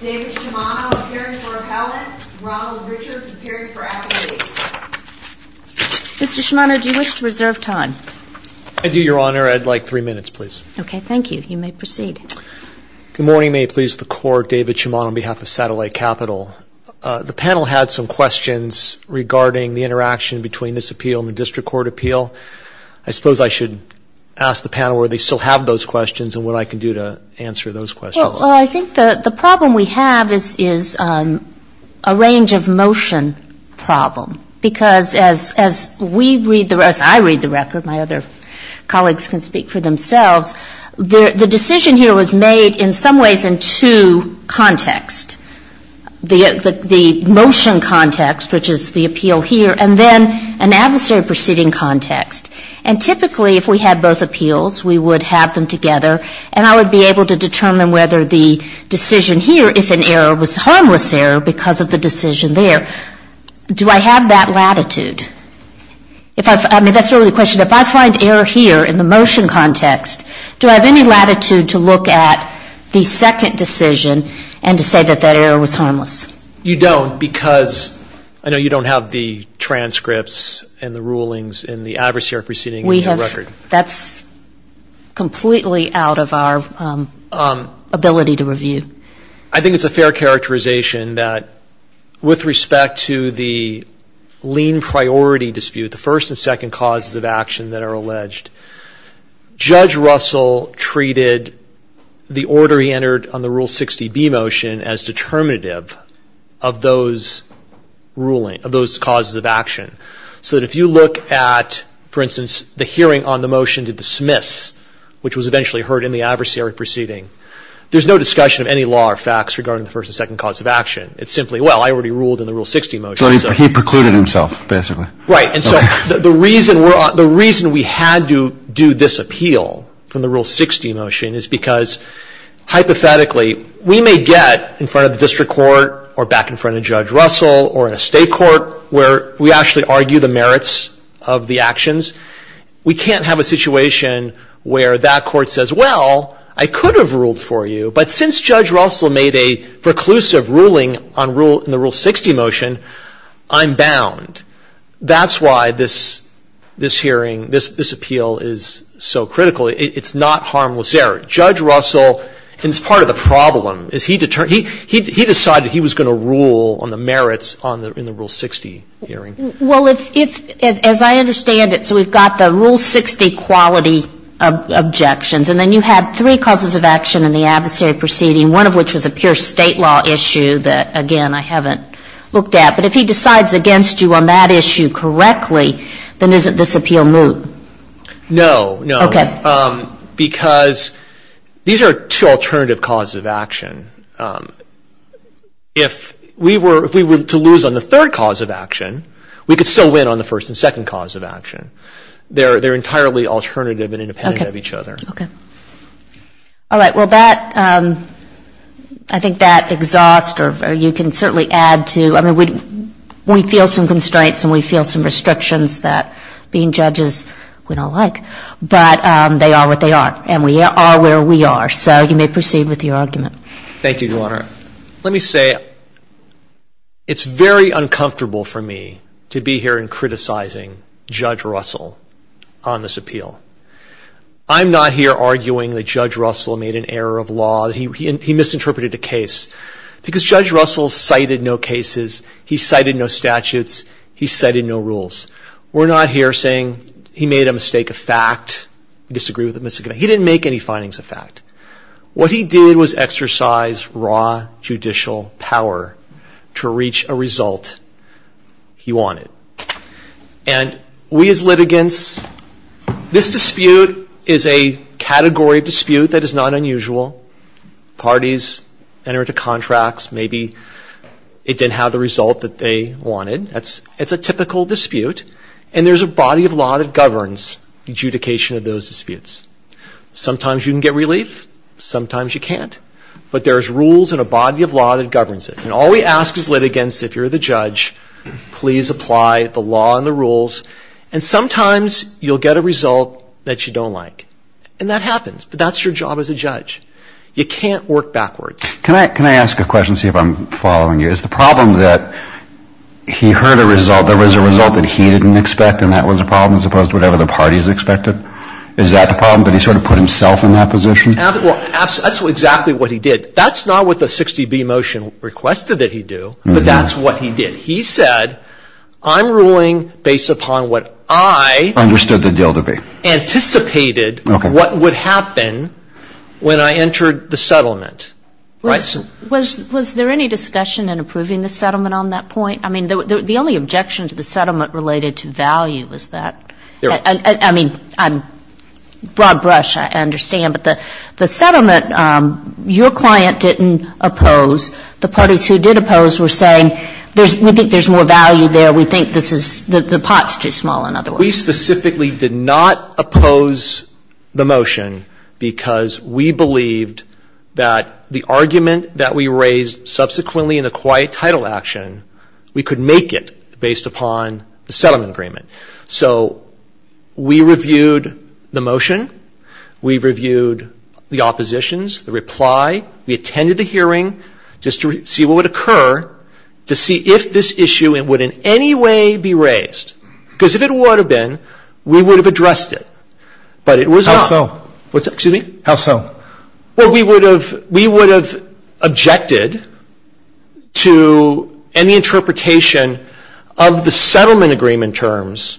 David Shimano, appearing for appellate. Ronald Richards, appearing for affidavit. Mr. Shimano, do you wish to reserve time? I do, Your Honor. I'd like three minutes, please. Okay. Thank you. You may proceed. Good morning. May it please the Court. David Shimano on behalf of Satellite Capital. The panel had some questions regarding the interaction between this appeal and the District Court appeal. I suppose I should ask the panel whether they still have those questions and what I can do to answer those questions. Well, I think the problem we have is a range of motion problem. Because as I read the record, my other colleagues can speak for themselves, the decision here was made in some ways in two contexts. The motion context, which is the appeal here, and then an adversary proceeding context. And typically, if we had both appeals, we would have them together, and I would be able to determine whether the decision here, if an error was a harmless error because of the decision there, do I have that latitude? I mean, that's really the question. If I find error here in the motion context, do I have any latitude to look at the second decision and to say that that error was harmless? You don't, because I know you don't have the transcripts and the rulings in the adversary proceeding context. That's completely out of our ability to review. I think it's a fair characterization that with respect to the lien priority dispute, the first and second causes of action that are alleged, Judge Russell treated the order he entered on the Rule 60B motion as determinative of those ruling, of those causes of action. So that if you look at, for instance, the hearing on the motion to dismiss, which was eventually heard in the adversary proceeding, there's no discussion of any law or facts regarding the first and second cause of action. It's simply, well, I already ruled in the Rule 60 motion. So he precluded himself, basically. Right. And so the reason we had to do this appeal from the Rule 60 motion is because, hypothetically, we may get in front of the district court or back in front of Judge Russell, or in a state court where we actually argue the merits of the actions. We can't have a situation where that court says, well, I could have ruled for you, but since Judge Russell made a preclusive ruling in the Rule 60 motion, I'm bound. That's why this hearing, this appeal is so critical. It's not harmless error. Judge Russell, and it's part of the problem, he decided he was going to rule on the merits in the Rule 60 hearing. Well, as I understand it, so we've got the Rule 60 quality objections, and then you have three causes of action in the adversary proceeding, one of which was a pure State law issue that, again, I haven't looked at. But if he decides against you on that issue correctly, then isn't this appeal moot? No, no, because these are two alternative causes of action. If we were to lose on the third cause of action, we could still win on the first and second cause of action. They're entirely alternative and independent of each other. All right. Well, that, I think that exhausts, or you can certainly add to, I mean, we feel some constraints, and we feel some restrictions that being judges we don't like, but they are what they are, and we are where we are. So you may proceed with your argument. Thank you, Your Honor. Let me say it's very uncomfortable for me to be here in criticizing Judge Russell on this appeal. I'm not here arguing that Judge Russell made an error of law, that he misinterpreted the case, because Judge Russell cited no cases, he cited no statutes, he cited no rules. We're not here saying he made a mistake of fact. He didn't make any findings of fact. What he did was exercise raw judicial power to reach a result he wanted. And we as litigants, this dispute is a category of dispute that is not unusual. Parties enter into contracts, maybe it didn't have the result that they wanted. It's a typical dispute, and there's a body of law that governs adjudication of those disputes. Sometimes you can get relief, sometimes you can't, but there's rules and a body of law that governs it. And all we ask as litigants, if you're the judge, please apply the law and the rules, and sometimes you'll get a result that you don't like. And that happens, but that's your job as a judge. You can't work backwards. Can I ask a question, see if I'm following you? Is the problem that he heard a result, there was a result that he didn't expect, and that was a problem, as opposed to whatever the parties expected? Is that the problem, that he sort of put himself in that position? Well, that's exactly what he did. That's not what the 60B motion requested that he do, but that's what he did. He said, I'm ruling based upon what I anticipated what would happen when I entered the settlement. Was there any discussion in approving the settlement on that point? I mean, the only objection to the settlement related to value was that, I mean, broad brush, I understand, but the settlement, your client didn't oppose. The parties who did oppose were saying, we think there's more value there. We think this is, the pot's too small, in other words. We specifically did not oppose the motion because we believed that the argument that we raised subsequently in the quiet title action, we could make it based upon the settlement agreement. So we reviewed the motion. We reviewed the oppositions, the reply. We attended the hearing just to see what would occur, to see if this issue would in any way be raised. Because if it would have been, we would have addressed it, but it was not. How so? Well, we would have, we would have objected to any interpretation of the settlement agreement terms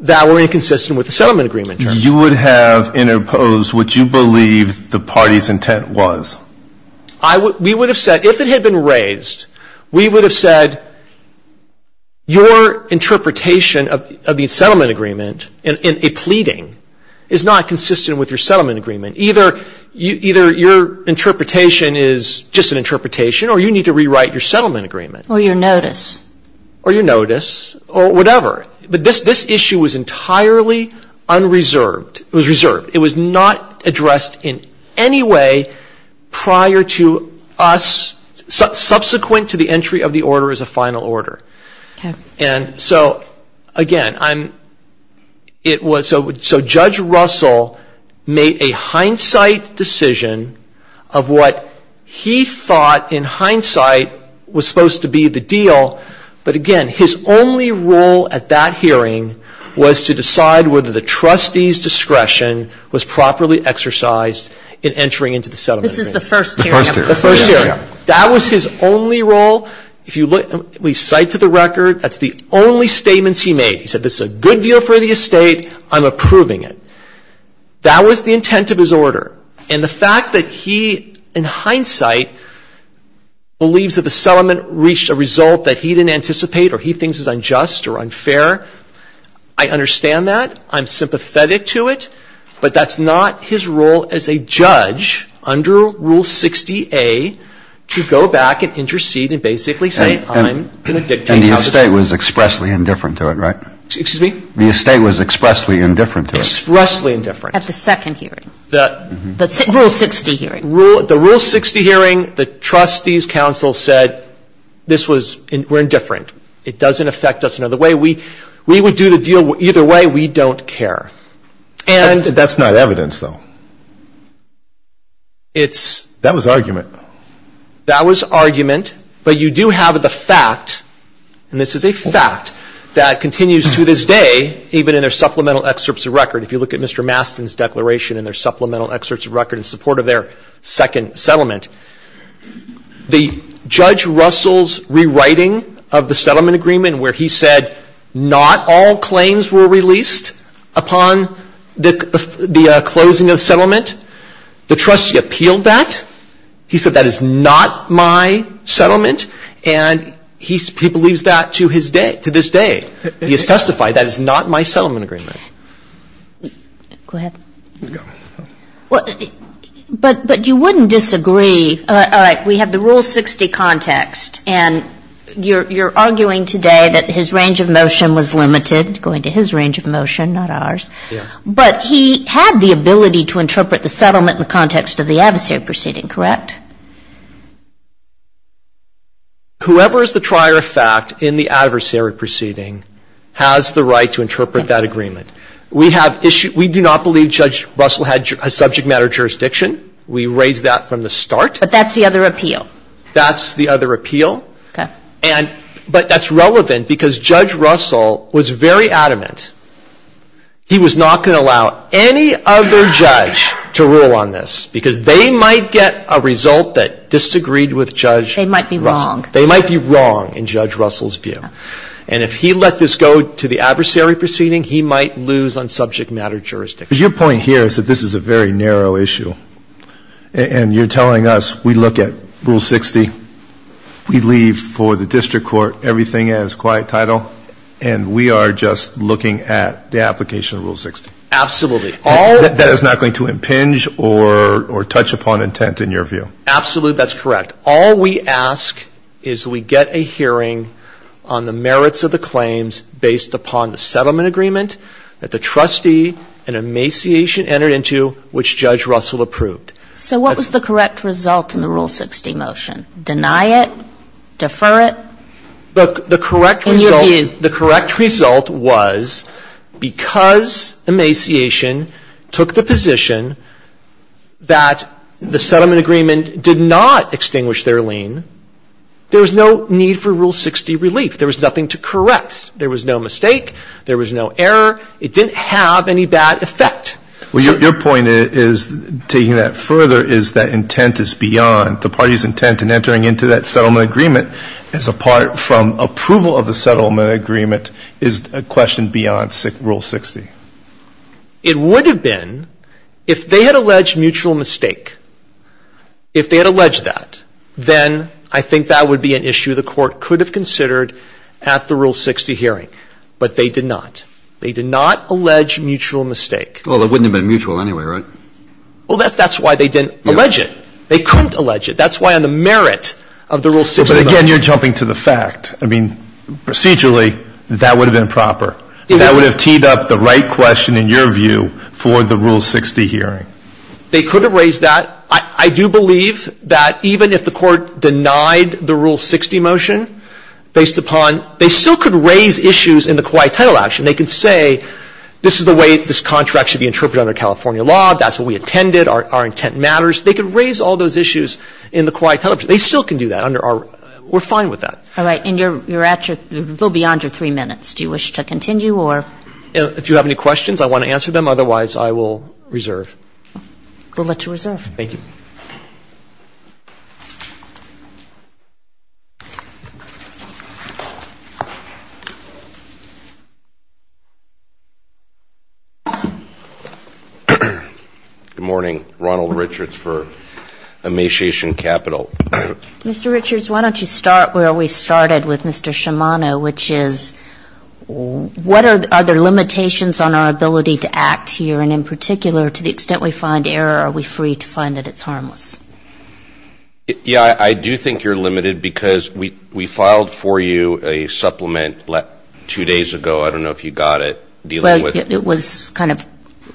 that were inconsistent with the settlement agreement terms. You would have interposed what you believed the party's intent was. We would have said, if it had been raised, we would have said your interpretation of the settlement agreement in a pleading is not consistent with your settlement agreement. Either your interpretation is just an interpretation, or you need to rewrite your settlement agreement. Or your notice. Or your notice, or whatever. But this issue was entirely unreserved. It was reserved. It was not addressed in any way prior to us, subsequent to the entry of the order as a final order. And so again, it was, so Judge Russell made a hindsight decision of what he thought in hindsight was supposed to be the deal. But again, his only role at that hearing was to decide whether the trustee's discretion was properly exercised in entering into the settlement agreement. This is the first hearing. The first hearing. That was his only role. If you look, we cite to the record, that's the only statements he made. He said, this is a good deal for the estate. I'm approving it. That was the intent of his order. And the fact that he, in hindsight, believes that the settlement reached a result that he didn't anticipate or he thinks is unjust or unfair, I understand that. I'm sympathetic to it. But that's not his role as a judge under Rule 60A to go back and intercede and basically say, I'm going to dictate how to do it. And the estate was expressly indifferent to it, right? Excuse me? The estate was expressly indifferent to it. Expressly indifferent. At the second hearing. The Rule 60 hearing. The Rule 60 hearing, the trustees' counsel said, this was, we're indifferent. It doesn't affect us another way. We would do the deal either way. We don't care. And. But that's not evidence, though. It's. That was argument. That was argument. But you do have the fact, and this is a fact, that continues to this day, even in their supplemental excerpts of record. If you look at Mr. Mastin's declaration in their supplemental excerpts of record in support of their second settlement, the Judge Russell's rewriting of the settlement agreement where he said, not all claims were released upon the closing of the settlement, the trustee appealed that. He said, that is not my settlement. And he believes that to his day, to this day. He has testified, that is not my settlement agreement. Go ahead. But you wouldn't disagree. All right. We have the Rule 60 context. And you're arguing today that his range of motion was limited, going to his range of motion, not ours. But he had the ability to interpret the settlement in the context of the adversary proceeding, correct? Whoever is the trier of fact in the adversary proceeding has the right to interpret that agreement. We do not believe Judge Russell had a subject matter jurisdiction. We raised that from the start. But that's the other appeal. That's the other appeal. Okay. But that's relevant, because Judge Russell was very adamant he was not going to allow any other judge to rule on this, because they might get a result that disagreed with Judge Russell. They might be wrong. They might be wrong, in Judge Russell's view. And if he let this go to the adversary proceeding, he might lose on subject matter jurisdiction. But your point here is that this is a very narrow issue. And you're telling us we look at Rule 60, we leave for the district court everything as quiet title, and we are just looking at the application of Rule 60. Absolutely. That is not going to impinge or touch upon intent, in your view. Absolutely. That's correct. All we ask is we get a hearing on the merits of the claims based upon the settlement agreement that the trustee and emaciation entered into, which Judge Russell approved. So what was the correct result in the Rule 60 motion? Deny it? Defer it? The correct result was because emaciation took the position that the settlement agreement did not extinguish their lien, there was no need for Rule 60 relief. There was nothing to correct. There was no mistake. There was no error. It didn't have any bad effect. Well, your point is, taking that further, is that intent is beyond. The party's intent in entering into that settlement agreement is apart from approval of the settlement agreement is a question beyond Rule 60. It would have been, if they had alleged mutual mistake, if they had alleged that, then I think that would be an issue the Court could have considered at the Rule 60 hearing. But they did not. They did not allege mutual mistake. Well, it wouldn't have been mutual anyway, right? Well, that's why they didn't allege it. They couldn't allege it. That's why on the merit of the Rule 60 motion. But, again, you're jumping to the fact. I mean, procedurally, that would have been proper. That would have teed up the right question, in your view, for the Rule 60 hearing. They could have raised that. I do believe that even if the Court denied the Rule 60 motion, based upon they still could raise issues in the quiet title action. They could say, this is the way this contract should be interpreted under California law. That's what we intended. Our intent matters. They could raise all those issues in the quiet title. They still can do that under our we're fine with that. All right. And you're at your, a little beyond your three minutes. Do you wish to continue or? If you have any questions, I want to answer them. Otherwise, I will reserve. We'll let you reserve. Thank you. Good morning. Ronald Richards for Emaciation Capital. Mr. Richards, why don't you start where we started with Mr. Shimano, which is, what are the limitations on our ability to act here? And in particular, to the extent we find error, are we free to find that it's harmless? Yeah, I do think you're limited because we filed for you a supplement two days ago. I don't know if you got it. It was kind of,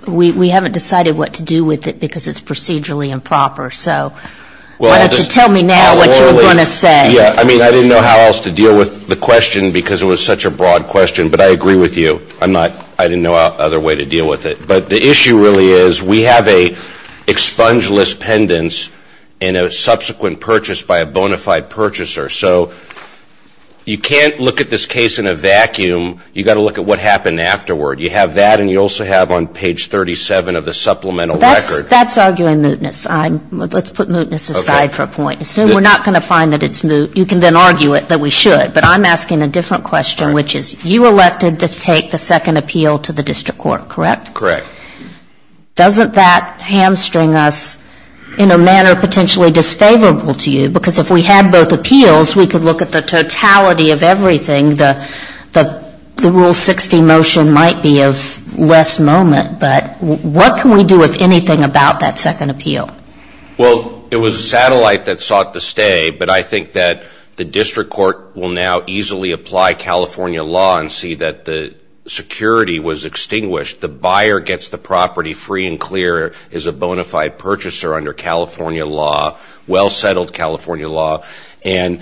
we haven't decided what to do with it because it's procedurally improper. So why don't you tell me now what you're going to say? Yeah. I mean, I didn't know how else to deal with the question because it was such a broad question. But I agree with you. I'm not, I didn't know other way to deal with it. But the issue really is we have a expungeless pendants and a subsequent purchase by a bona fide purchaser. So you can't look at this case in a vacuum. You've got to look at what happened afterward. You have that and you also have on page 37 of the supplemental record. That's arguing mootness. Let's put mootness aside for a point. Assume we're not going to find that it's moot. You can then argue it that we should. But I'm asking a different question, which is you elected to take the second appeal to the district court, correct? Correct. Doesn't that hamstring us in a manner potentially disfavorable to you? Because if we had both appeals, we could look at the totality of everything. The rule 60 motion might be of less moment. But what can we do, if anything, about that second appeal? Well, it was a satellite that sought to stay. But I think that the district court will now easily apply California law and see that the security was extinguished. The buyer gets the property free and clear as a bona fide purchaser under California law, well settled California law. And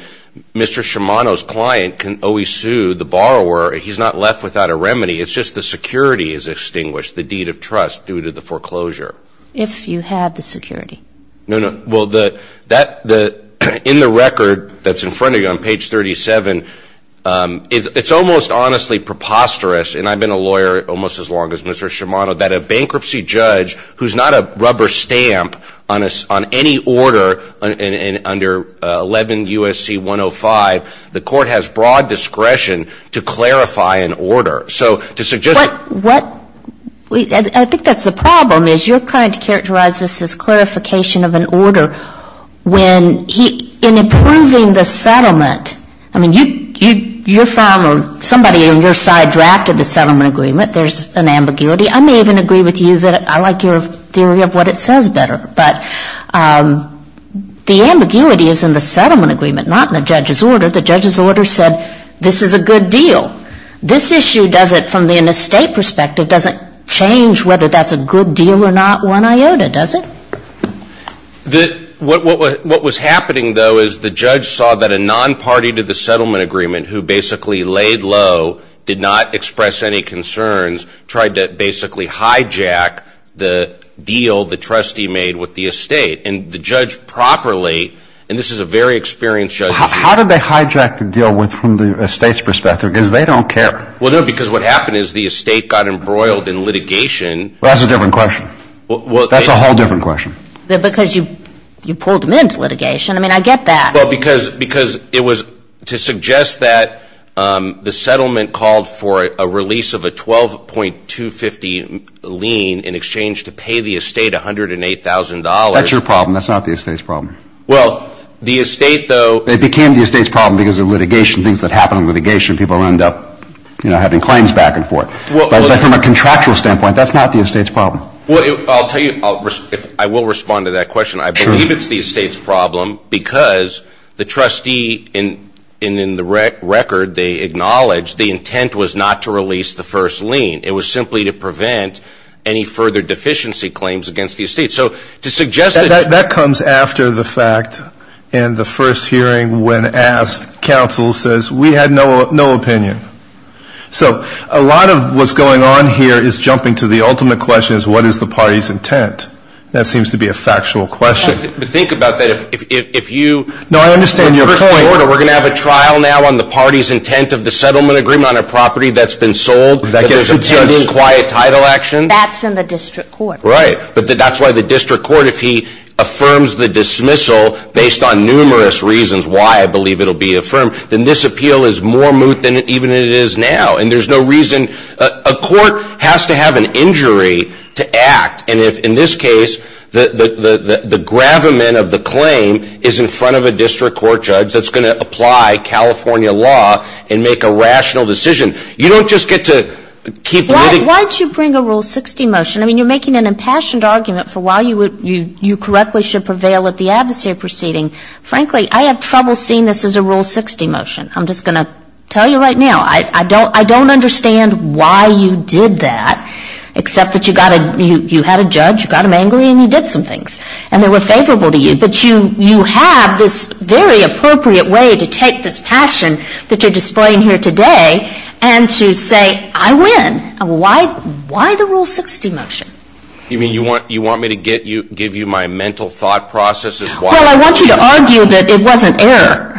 Mr. Shimano's client can always sue the borrower. He's not left without a remedy. It's just the security is extinguished. The deed of trust due to the foreclosure. If you have the security. No, no. Well, in the record that's in front of you on page 37, it's almost honestly preposterous, and I've been a lawyer almost as long as Mr. Shimano, that a bankruptcy judge who's not a rubber stamp on any order under 11 U.S.C. 105, the court has broad discretion to clarify an order. So to suggest I think that's the problem is your client characterizes this as clarification of an order when in approving the settlement. I mean, you're firm or somebody on your side drafted the settlement agreement. There's an ambiguity. I may even agree with you that I like your theory of what it says better. But the ambiguity is in the settlement agreement, not in the judge's order. The judge's order said this is a good deal. This issue doesn't, from an estate perspective, doesn't change whether that's a good deal or not one iota, does it? What was happening, though, is the judge saw that a non-party to the settlement agreement who basically laid low, did not express any concerns, tried to basically hijack the deal the trustee made with the estate. And the judge properly, and this is a very experienced judge. How did they hijack the deal from the estate's perspective? Because they don't care. Well, no, because what happened is the estate got embroiled in litigation. Well, that's a different question. That's a whole different question. Because you pulled them into litigation. I mean, I get that. Well, because it was to suggest that the settlement called for a release of a 12.250 lien in exchange to pay the estate $108,000. That's your problem. That's not the estate's problem. Well, the estate, though. It became the estate's problem because of litigation, things that happen in litigation. People end up, you know, having claims back and forth. But from a contractual standpoint, that's not the estate's problem. Well, I'll tell you, I will respond to that question. I believe it's the estate's problem because the trustee in the record, they acknowledged the intent was not to release the first lien. It was simply to prevent any further deficiency claims against the estate. That comes after the fact. And the first hearing when asked, counsel says, we had no opinion. So a lot of what's going on here is jumping to the ultimate question is, what is the party's intent? That seems to be a factual question. Think about that. If you ---- No, I understand your point. We're going to have a trial now on the party's intent of the settlement agreement on a property that's been sold. That's in the district court. Right. But that's why the district court, if he affirms the dismissal based on numerous reasons why I believe it will be affirmed, then this appeal is more moot than even it is now. And there's no reason ---- A court has to have an injury to act. And in this case, the gravamen of the claim is in front of a district court judge that's going to apply California law and make a rational decision. You don't just get to keep ---- Why don't you bring a Rule 60 motion? I mean, you're making an impassioned argument for why you correctly should prevail at the adversary proceeding. Frankly, I have trouble seeing this as a Rule 60 motion. I'm just going to tell you right now. I don't understand why you did that, except that you got a ---- you had a judge, you got him angry, and you did some things. And they were favorable to you. But you have this very appropriate way to take this passion that you're displaying here today and to say, I win. Why the Rule 60 motion? You mean you want me to give you my mental thought processes? Well, I want you to argue that it was an error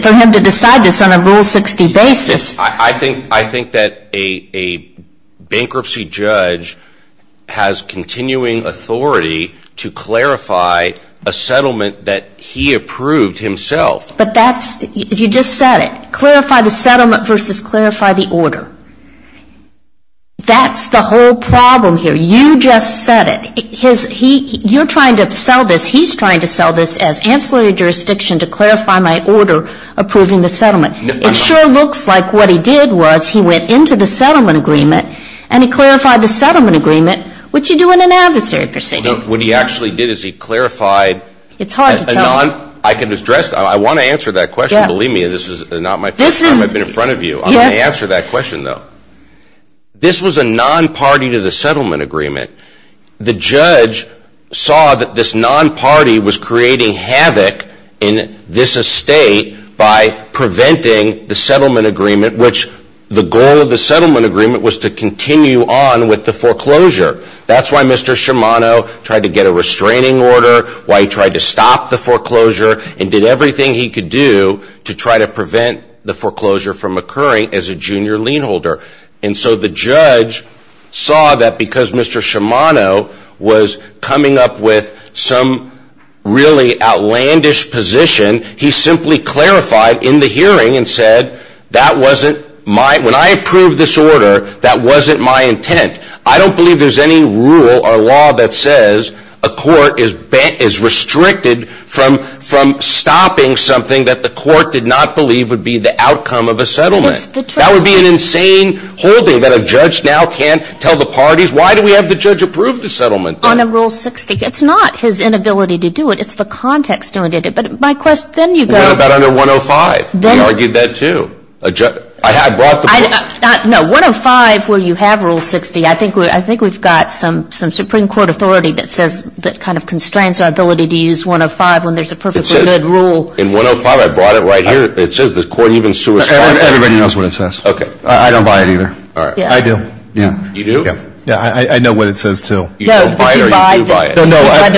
for him to decide this on a Rule 60 basis. I think that a bankruptcy judge has continuing authority to clarify a settlement that he approved himself. But that's ---- you just said it. Clarify the settlement versus clarify the order. That's the whole problem here. You just said it. You're trying to sell this. He's trying to sell this as ancillary jurisdiction to clarify my order approving the settlement. It sure looks like what he did was he went into the settlement agreement and he clarified the settlement agreement, which you do in an adversary proceeding. What he actually did is he clarified ---- It's hard to tell. I can address that. I want to answer that question. Believe me, this is not my first time I've been in front of you. I'm going to answer that question, though. This was a non-party to the settlement agreement. The judge saw that this non-party was creating havoc in this estate by preventing the settlement agreement, which the goal of the settlement agreement was to continue on with the foreclosure. That's why Mr. Shimano tried to get a restraining order, why he tried to stop the foreclosure, and did everything he could do to try to prevent the hearing as a junior lien holder. And so the judge saw that because Mr. Shimano was coming up with some really outlandish position, he simply clarified in the hearing and said, that wasn't my ---- When I approved this order, that wasn't my intent. I don't believe there's any rule or law that says a court is restricted from stopping something that the court did not believe would be the outcome of a settlement. That would be an insane holding that a judge now can't tell the parties, why do we have the judge approve the settlement? On Rule 60, it's not his inability to do it. It's the context doing it. But my question, then you go ---- What about under 105? He argued that, too. I brought the ---- No, 105 where you have Rule 60, I think we've got some Supreme Court authority that says, that kind of constrains our ability to use 105 when there's a perfectly good rule. In 105, I brought it right here. It says the court even ---- Everybody knows what it says. Okay. I don't buy it either. I do. You do? Yeah. I know what it says, too. You don't buy it or you do buy it? No, no. I'd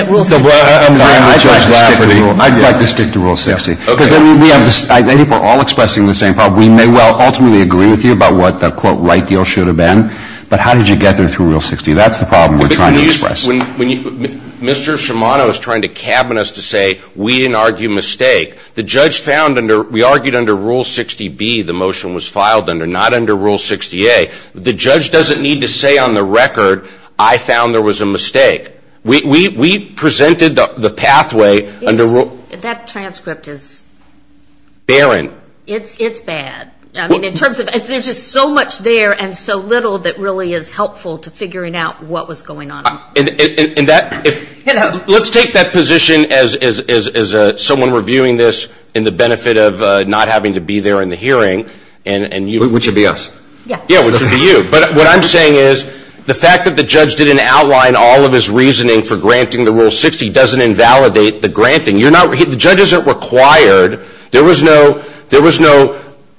like to stick to Rule 60. I think we're all expressing the same problem. We may well ultimately agree with you about what the quote right deal should have been, but how did you get there through Rule 60? That's the problem we're trying to express. Mr. Shimano is trying to cabin us to say we didn't argue mistake. The judge found under ---- we argued under Rule 60B, the motion was filed under, not under Rule 60A. The judge doesn't need to say on the record, I found there was a mistake. We presented the pathway under ---- That transcript is ---- Barren. It's bad. I mean, in terms of ---- there's just so much there and so little that really is helpful to figuring out what was going on. Let's take that position as someone reviewing this in the benefit of not having to be there in the hearing. Which would be us. Yeah, which would be you. But what I'm saying is the fact that the judge didn't outline all of his reasoning for granting the Rule 60 doesn't invalidate the granting. The judge isn't required. There was no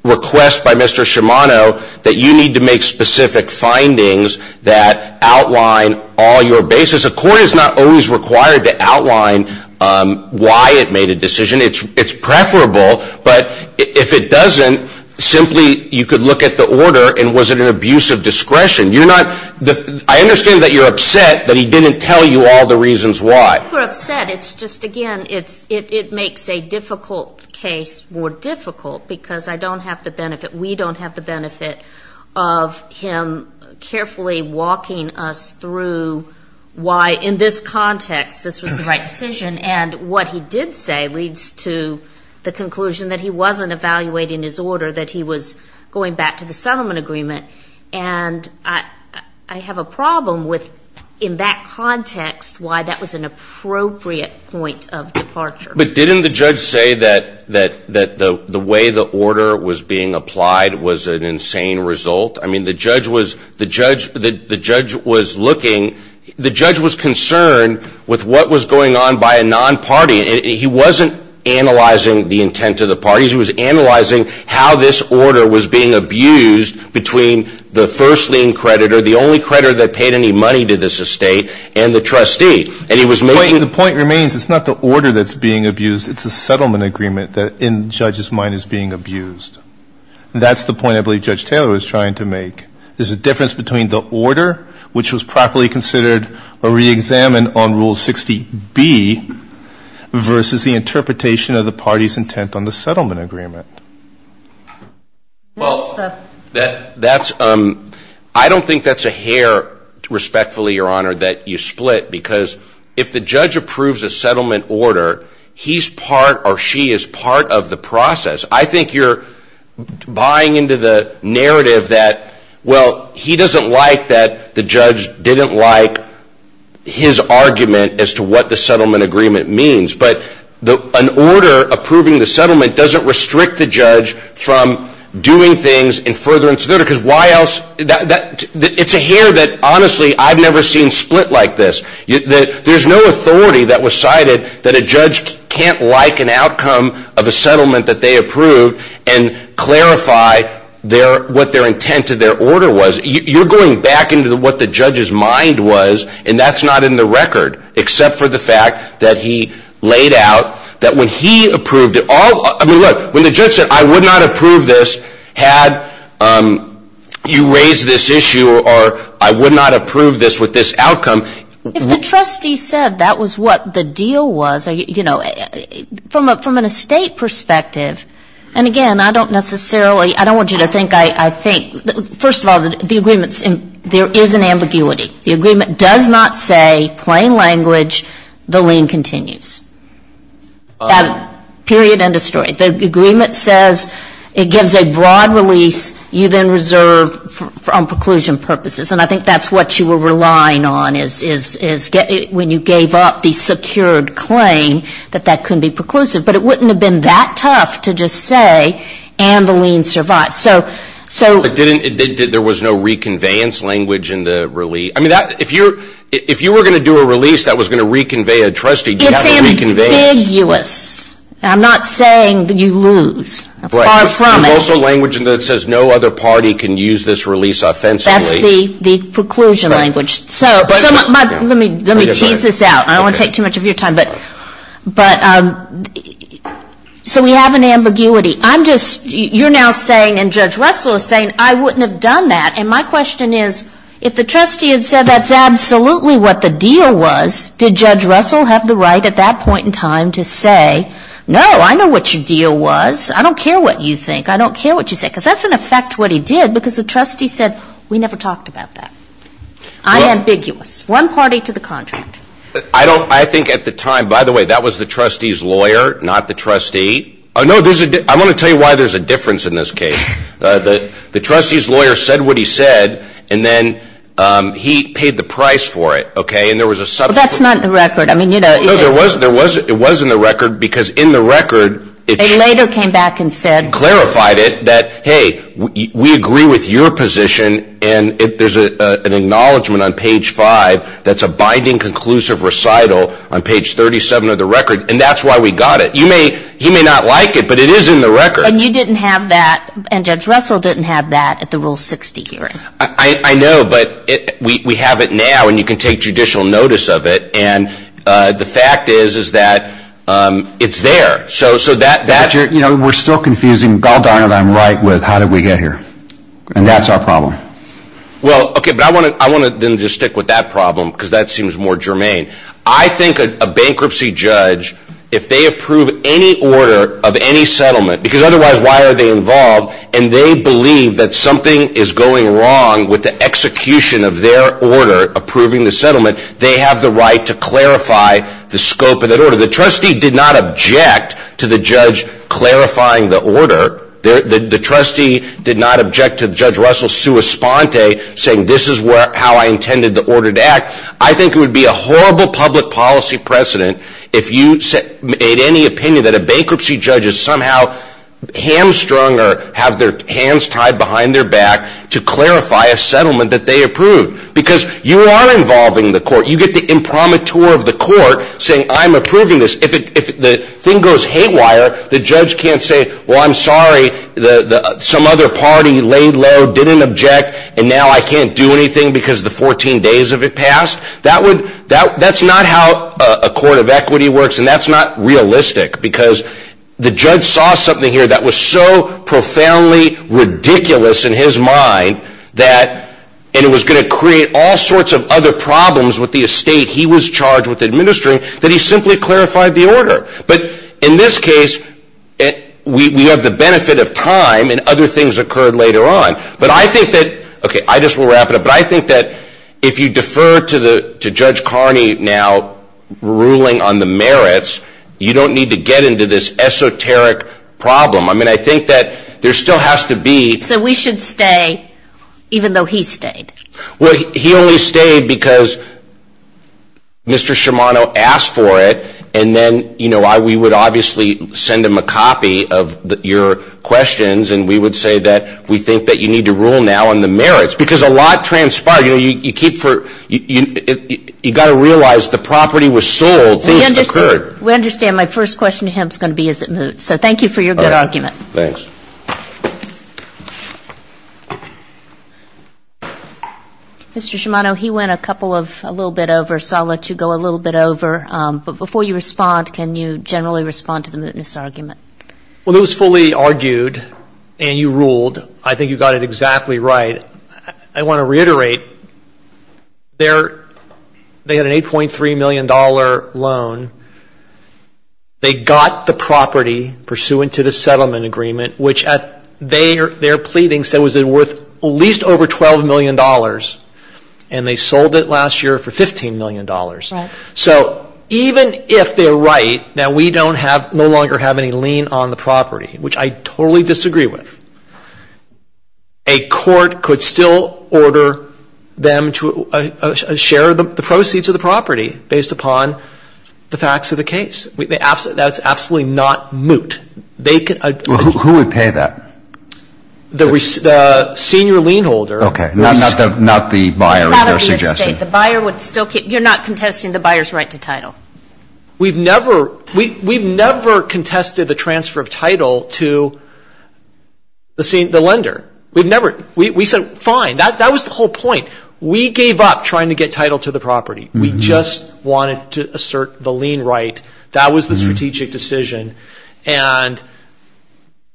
request by Mr. Shimano that you need to make specific findings that outline all your basis. A court is not always required to outline why it made a decision. It's preferable. But if it doesn't, simply you could look at the order and was it an abuse of discretion. You're not ---- I understand that you're upset that he didn't tell you all the reasons why. We're upset. It's just, again, it makes a difficult case more difficult because I don't have the benefit, we don't have the benefit of him carefully walking us through why in this context this was the right decision. And what he did say leads to the conclusion that he wasn't evaluating his order, that he was going back to the settlement agreement. And I have a problem with in that context why that was an appropriate point of departure. But didn't the judge say that the way the order was being applied was an insane result? I mean, the judge was looking. The judge was concerned with what was going on by a non-party. He wasn't analyzing the intent of the parties. He was analyzing how this order was being abused between the first lien creditor, the only creditor that paid any money to this estate, and the trustee. And he was moving ---- The point remains it's not the order that's being abused. It's the settlement agreement that in the judge's mind is being abused. That's the point I believe Judge Taylor was trying to make. There's a difference between the order, which was properly considered or reexamined on Rule 60B, versus the interpretation of the party's intent on the settlement agreement. Well, that's ---- I don't think that's a hair, respectfully, Your Honor, that you split. Because if the judge approves a settlement order, he's part or she is part of the process. I think you're buying into the narrative that, well, he doesn't like that the judge didn't like his argument as to what the settlement agreement means. But an order approving the settlement doesn't restrict the judge from doing things in furtherance of the order. Because why else ---- It's a hair that, honestly, I've never seen split like this. There's no authority that was cited that a judge can't like an outcome of a settlement that they approved and clarify what their intent of their order was. You're going back into what the judge's mind was, and that's not in the record, except for the fact that he laid out that when he approved it all ---- I mean, look, when the judge said, I would not approve this had you raised this issue or I would not approve this with this outcome ---- If the trustee said that was what the deal was, you know, from an estate perspective, and, again, I don't necessarily ---- I don't want you to think I think. First of all, the agreement's ---- there is an ambiguity. The agreement does not say, plain language, the lien continues. Period. End of story. The agreement says it gives a broad release. You then reserve on preclusion purposes. And I think that's what you were relying on is when you gave up the secured claim that that couldn't be preclusive. But it wouldn't have been that tough to just say, and the lien survived. So ---- There was no reconveyance language in the release. I mean, if you were going to do a release that was going to reconvey a trustee, you have to reconvey. It's ambiguous. I'm not saying that you lose. Far from it. There's also language that says no other party can use this release offensively. That's the preclusion language. So let me tease this out. I don't want to take too much of your time. But so we have an ambiguity. I'm just, you're now saying, and Judge Russell is saying, I wouldn't have done that. And my question is, if the trustee had said that's absolutely what the deal was, did Judge Russell have the right at that point in time to say, no, I know what your deal was. I don't care what you think. I don't care what you say. Because that's in effect what he did. Because the trustee said, we never talked about that. I'm ambiguous. One party to the contract. I don't, I think at the time, by the way, that was the trustee's lawyer, not the trustee. I want to tell you why there's a difference in this case. The trustee's lawyer said what he said. And then he paid the price for it. Okay? And there was a subsequent. That's not in the record. No, it was in the record. Because in the record. They later came back and said. Clarified it. That, hey, we agree with your position. And there's an acknowledgment on page five that's a binding conclusive recital on page 37 of the record. And that's why we got it. He may not like it, but it is in the record. And you didn't have that. And Judge Russell didn't have that at the Rule 60 hearing. I know. But we have it now. And you can take judicial notice of it. And the fact is, is that it's there. So that. You know, we're still confusing, God darn it, I'm right with how did we get here. And that's our problem. Well, okay. But I want to then just stick with that problem. Because that seems more germane. I think a bankruptcy judge, if they approve any order of any settlement. Because otherwise, why are they involved? And they believe that something is going wrong with the execution of their order approving the settlement. They have the right to clarify the scope of that order. The trustee did not object to the judge clarifying the order. The trustee did not object to Judge Russell's sua sponte saying this is how I intended the order to act. I think it would be a horrible public policy precedent if you made any opinion that a bankruptcy judge is somehow hamstrung or have their hands tied behind their back to clarify a settlement that they approved. Because you are involving the court. You get the imprimatur of the court saying I'm approving this. If the thing goes haywire, the judge can't say, well, I'm sorry, some other party laid low, didn't object, and now I can't do anything because the 14 days of it passed. That's not how a court of equity works. And that's not realistic. Because the judge saw something here that was so profoundly ridiculous in his mind that it was going to create all sorts of other problems with the estate he was charged with administering that he simply clarified the order. But in this case, we have the benefit of time and other things occurred later on. But I think that, okay, I just will wrap it up. But I think that if you defer to Judge Carney now ruling on the merits, you don't need to get into this esoteric problem. I mean, I think that there still has to be. So we should stay even though he stayed? Well, he only stayed because Mr. Shimano asked for it, and then, you know, we would obviously send him a copy of your questions, and we would say that we think that you need to rule now on the merits. Because a lot transpired. You know, you keep for you got to realize the property was sold. Things occurred. We understand. My first question to him is going to be is it moot. So thank you for your good argument. All right. Thanks. Mr. Shimano, he went a couple of a little bit over, so I'll let you go a little bit over. But before you respond, can you generally respond to the mootness argument? Well, it was fully argued, and you ruled. I think you got it exactly right. I want to reiterate, they had an $8.3 million loan. They got the property pursuant to the settlement agreement, which at their pleading said was worth at least over $12 million, and they sold it last year for $15 million. Right. So even if they're right, now we don't have, no longer have any lien on the property, which I totally disagree with, a court could still order them to share the proceeds of the property based upon the facts of the case. That's absolutely not moot. Who would pay that? The senior lien holder. Okay. Not the buyer, as you're suggesting. You're not contesting the buyer's right to title. We've never contested the transfer of title to the lender. We said, fine. That was the whole point. We gave up trying to get title to the property. We just wanted to assert the lien right. That was the strategic decision. And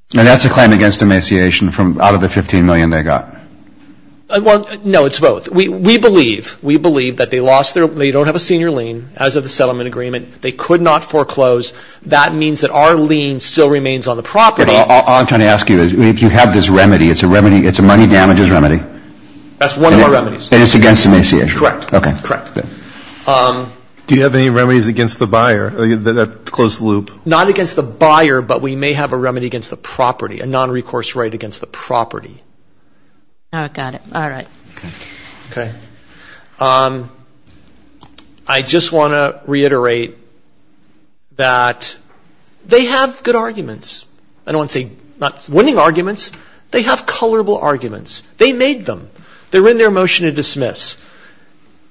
that's a claim against emaciation out of the $15 million they got. Well, no, it's both. We believe that they lost their, they don't have a senior lien as of the settlement agreement. They could not foreclose. That means that our lien still remains on the property. All I'm trying to ask you is, if you have this remedy, it's a remedy, it's a money damages remedy. That's one of our remedies. And it's against emaciation. Correct. Okay. Correct. Do you have any remedies against the buyer? Close the loop. Not against the buyer, but we may have a remedy against the property, a nonrecourse right against the property. Got it. All right. Okay. I just want to reiterate that they have good arguments. I don't want to say winning arguments. They have colorable arguments. They made them. They're in their motion to dismiss.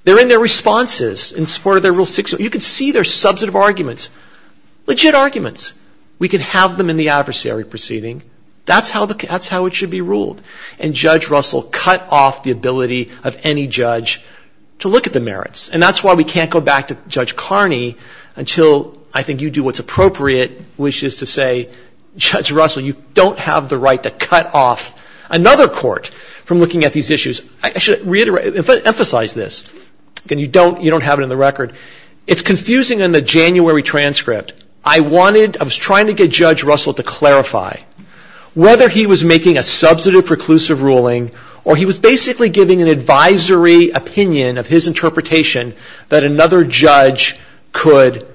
They're in their responses in support of their Rule 6. You can see their substantive arguments, legit arguments. We can have them in the adversary proceeding. That's how it should be ruled. And Judge Russell cut off the ability of any judge to look at the merits. And that's why we can't go back to Judge Carney until I think you do what's appropriate, which is to say, Judge Russell, you don't have the right to cut off another court from looking at these issues. I should emphasize this. You don't have it in the record. It's confusing in the January transcript. I was trying to get Judge Russell to clarify whether he was making a substantive preclusive ruling or he was basically giving an advisory opinion of his interpretation that another judge could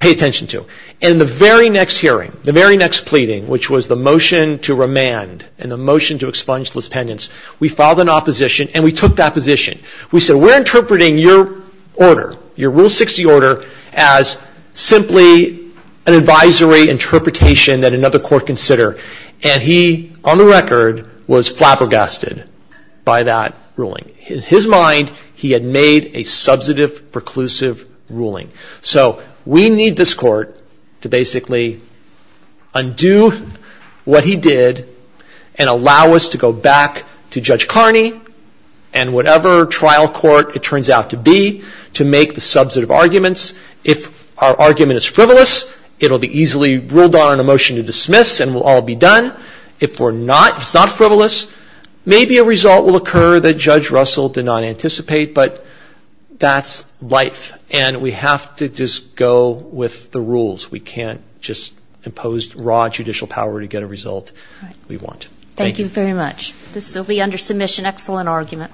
pay attention to. In the very next hearing, the very next pleading, which was the motion to remand and the motion to expunge those pendants, we filed an opposition and we took that position. We said, we're interpreting your order, your Rule 60 order, as simply an advisory interpretation that another court consider. And he, on the record, was flabbergasted by that ruling. In his mind, he had made a substantive preclusive ruling. So we need this court to basically undo what he did and allow us to go back to Judge Carney and whatever trial court it turns out to be to make the substantive arguments. If our argument is frivolous, it will be easily ruled on in a motion to dismiss and we'll all be done. If it's not frivolous, maybe a result will occur that Judge Russell did not anticipate, but that's life and we have to just go with the rules. We can't just impose raw judicial power to get a result we want. Thank you. Thank you very much. This will be under submission. Excellent argument.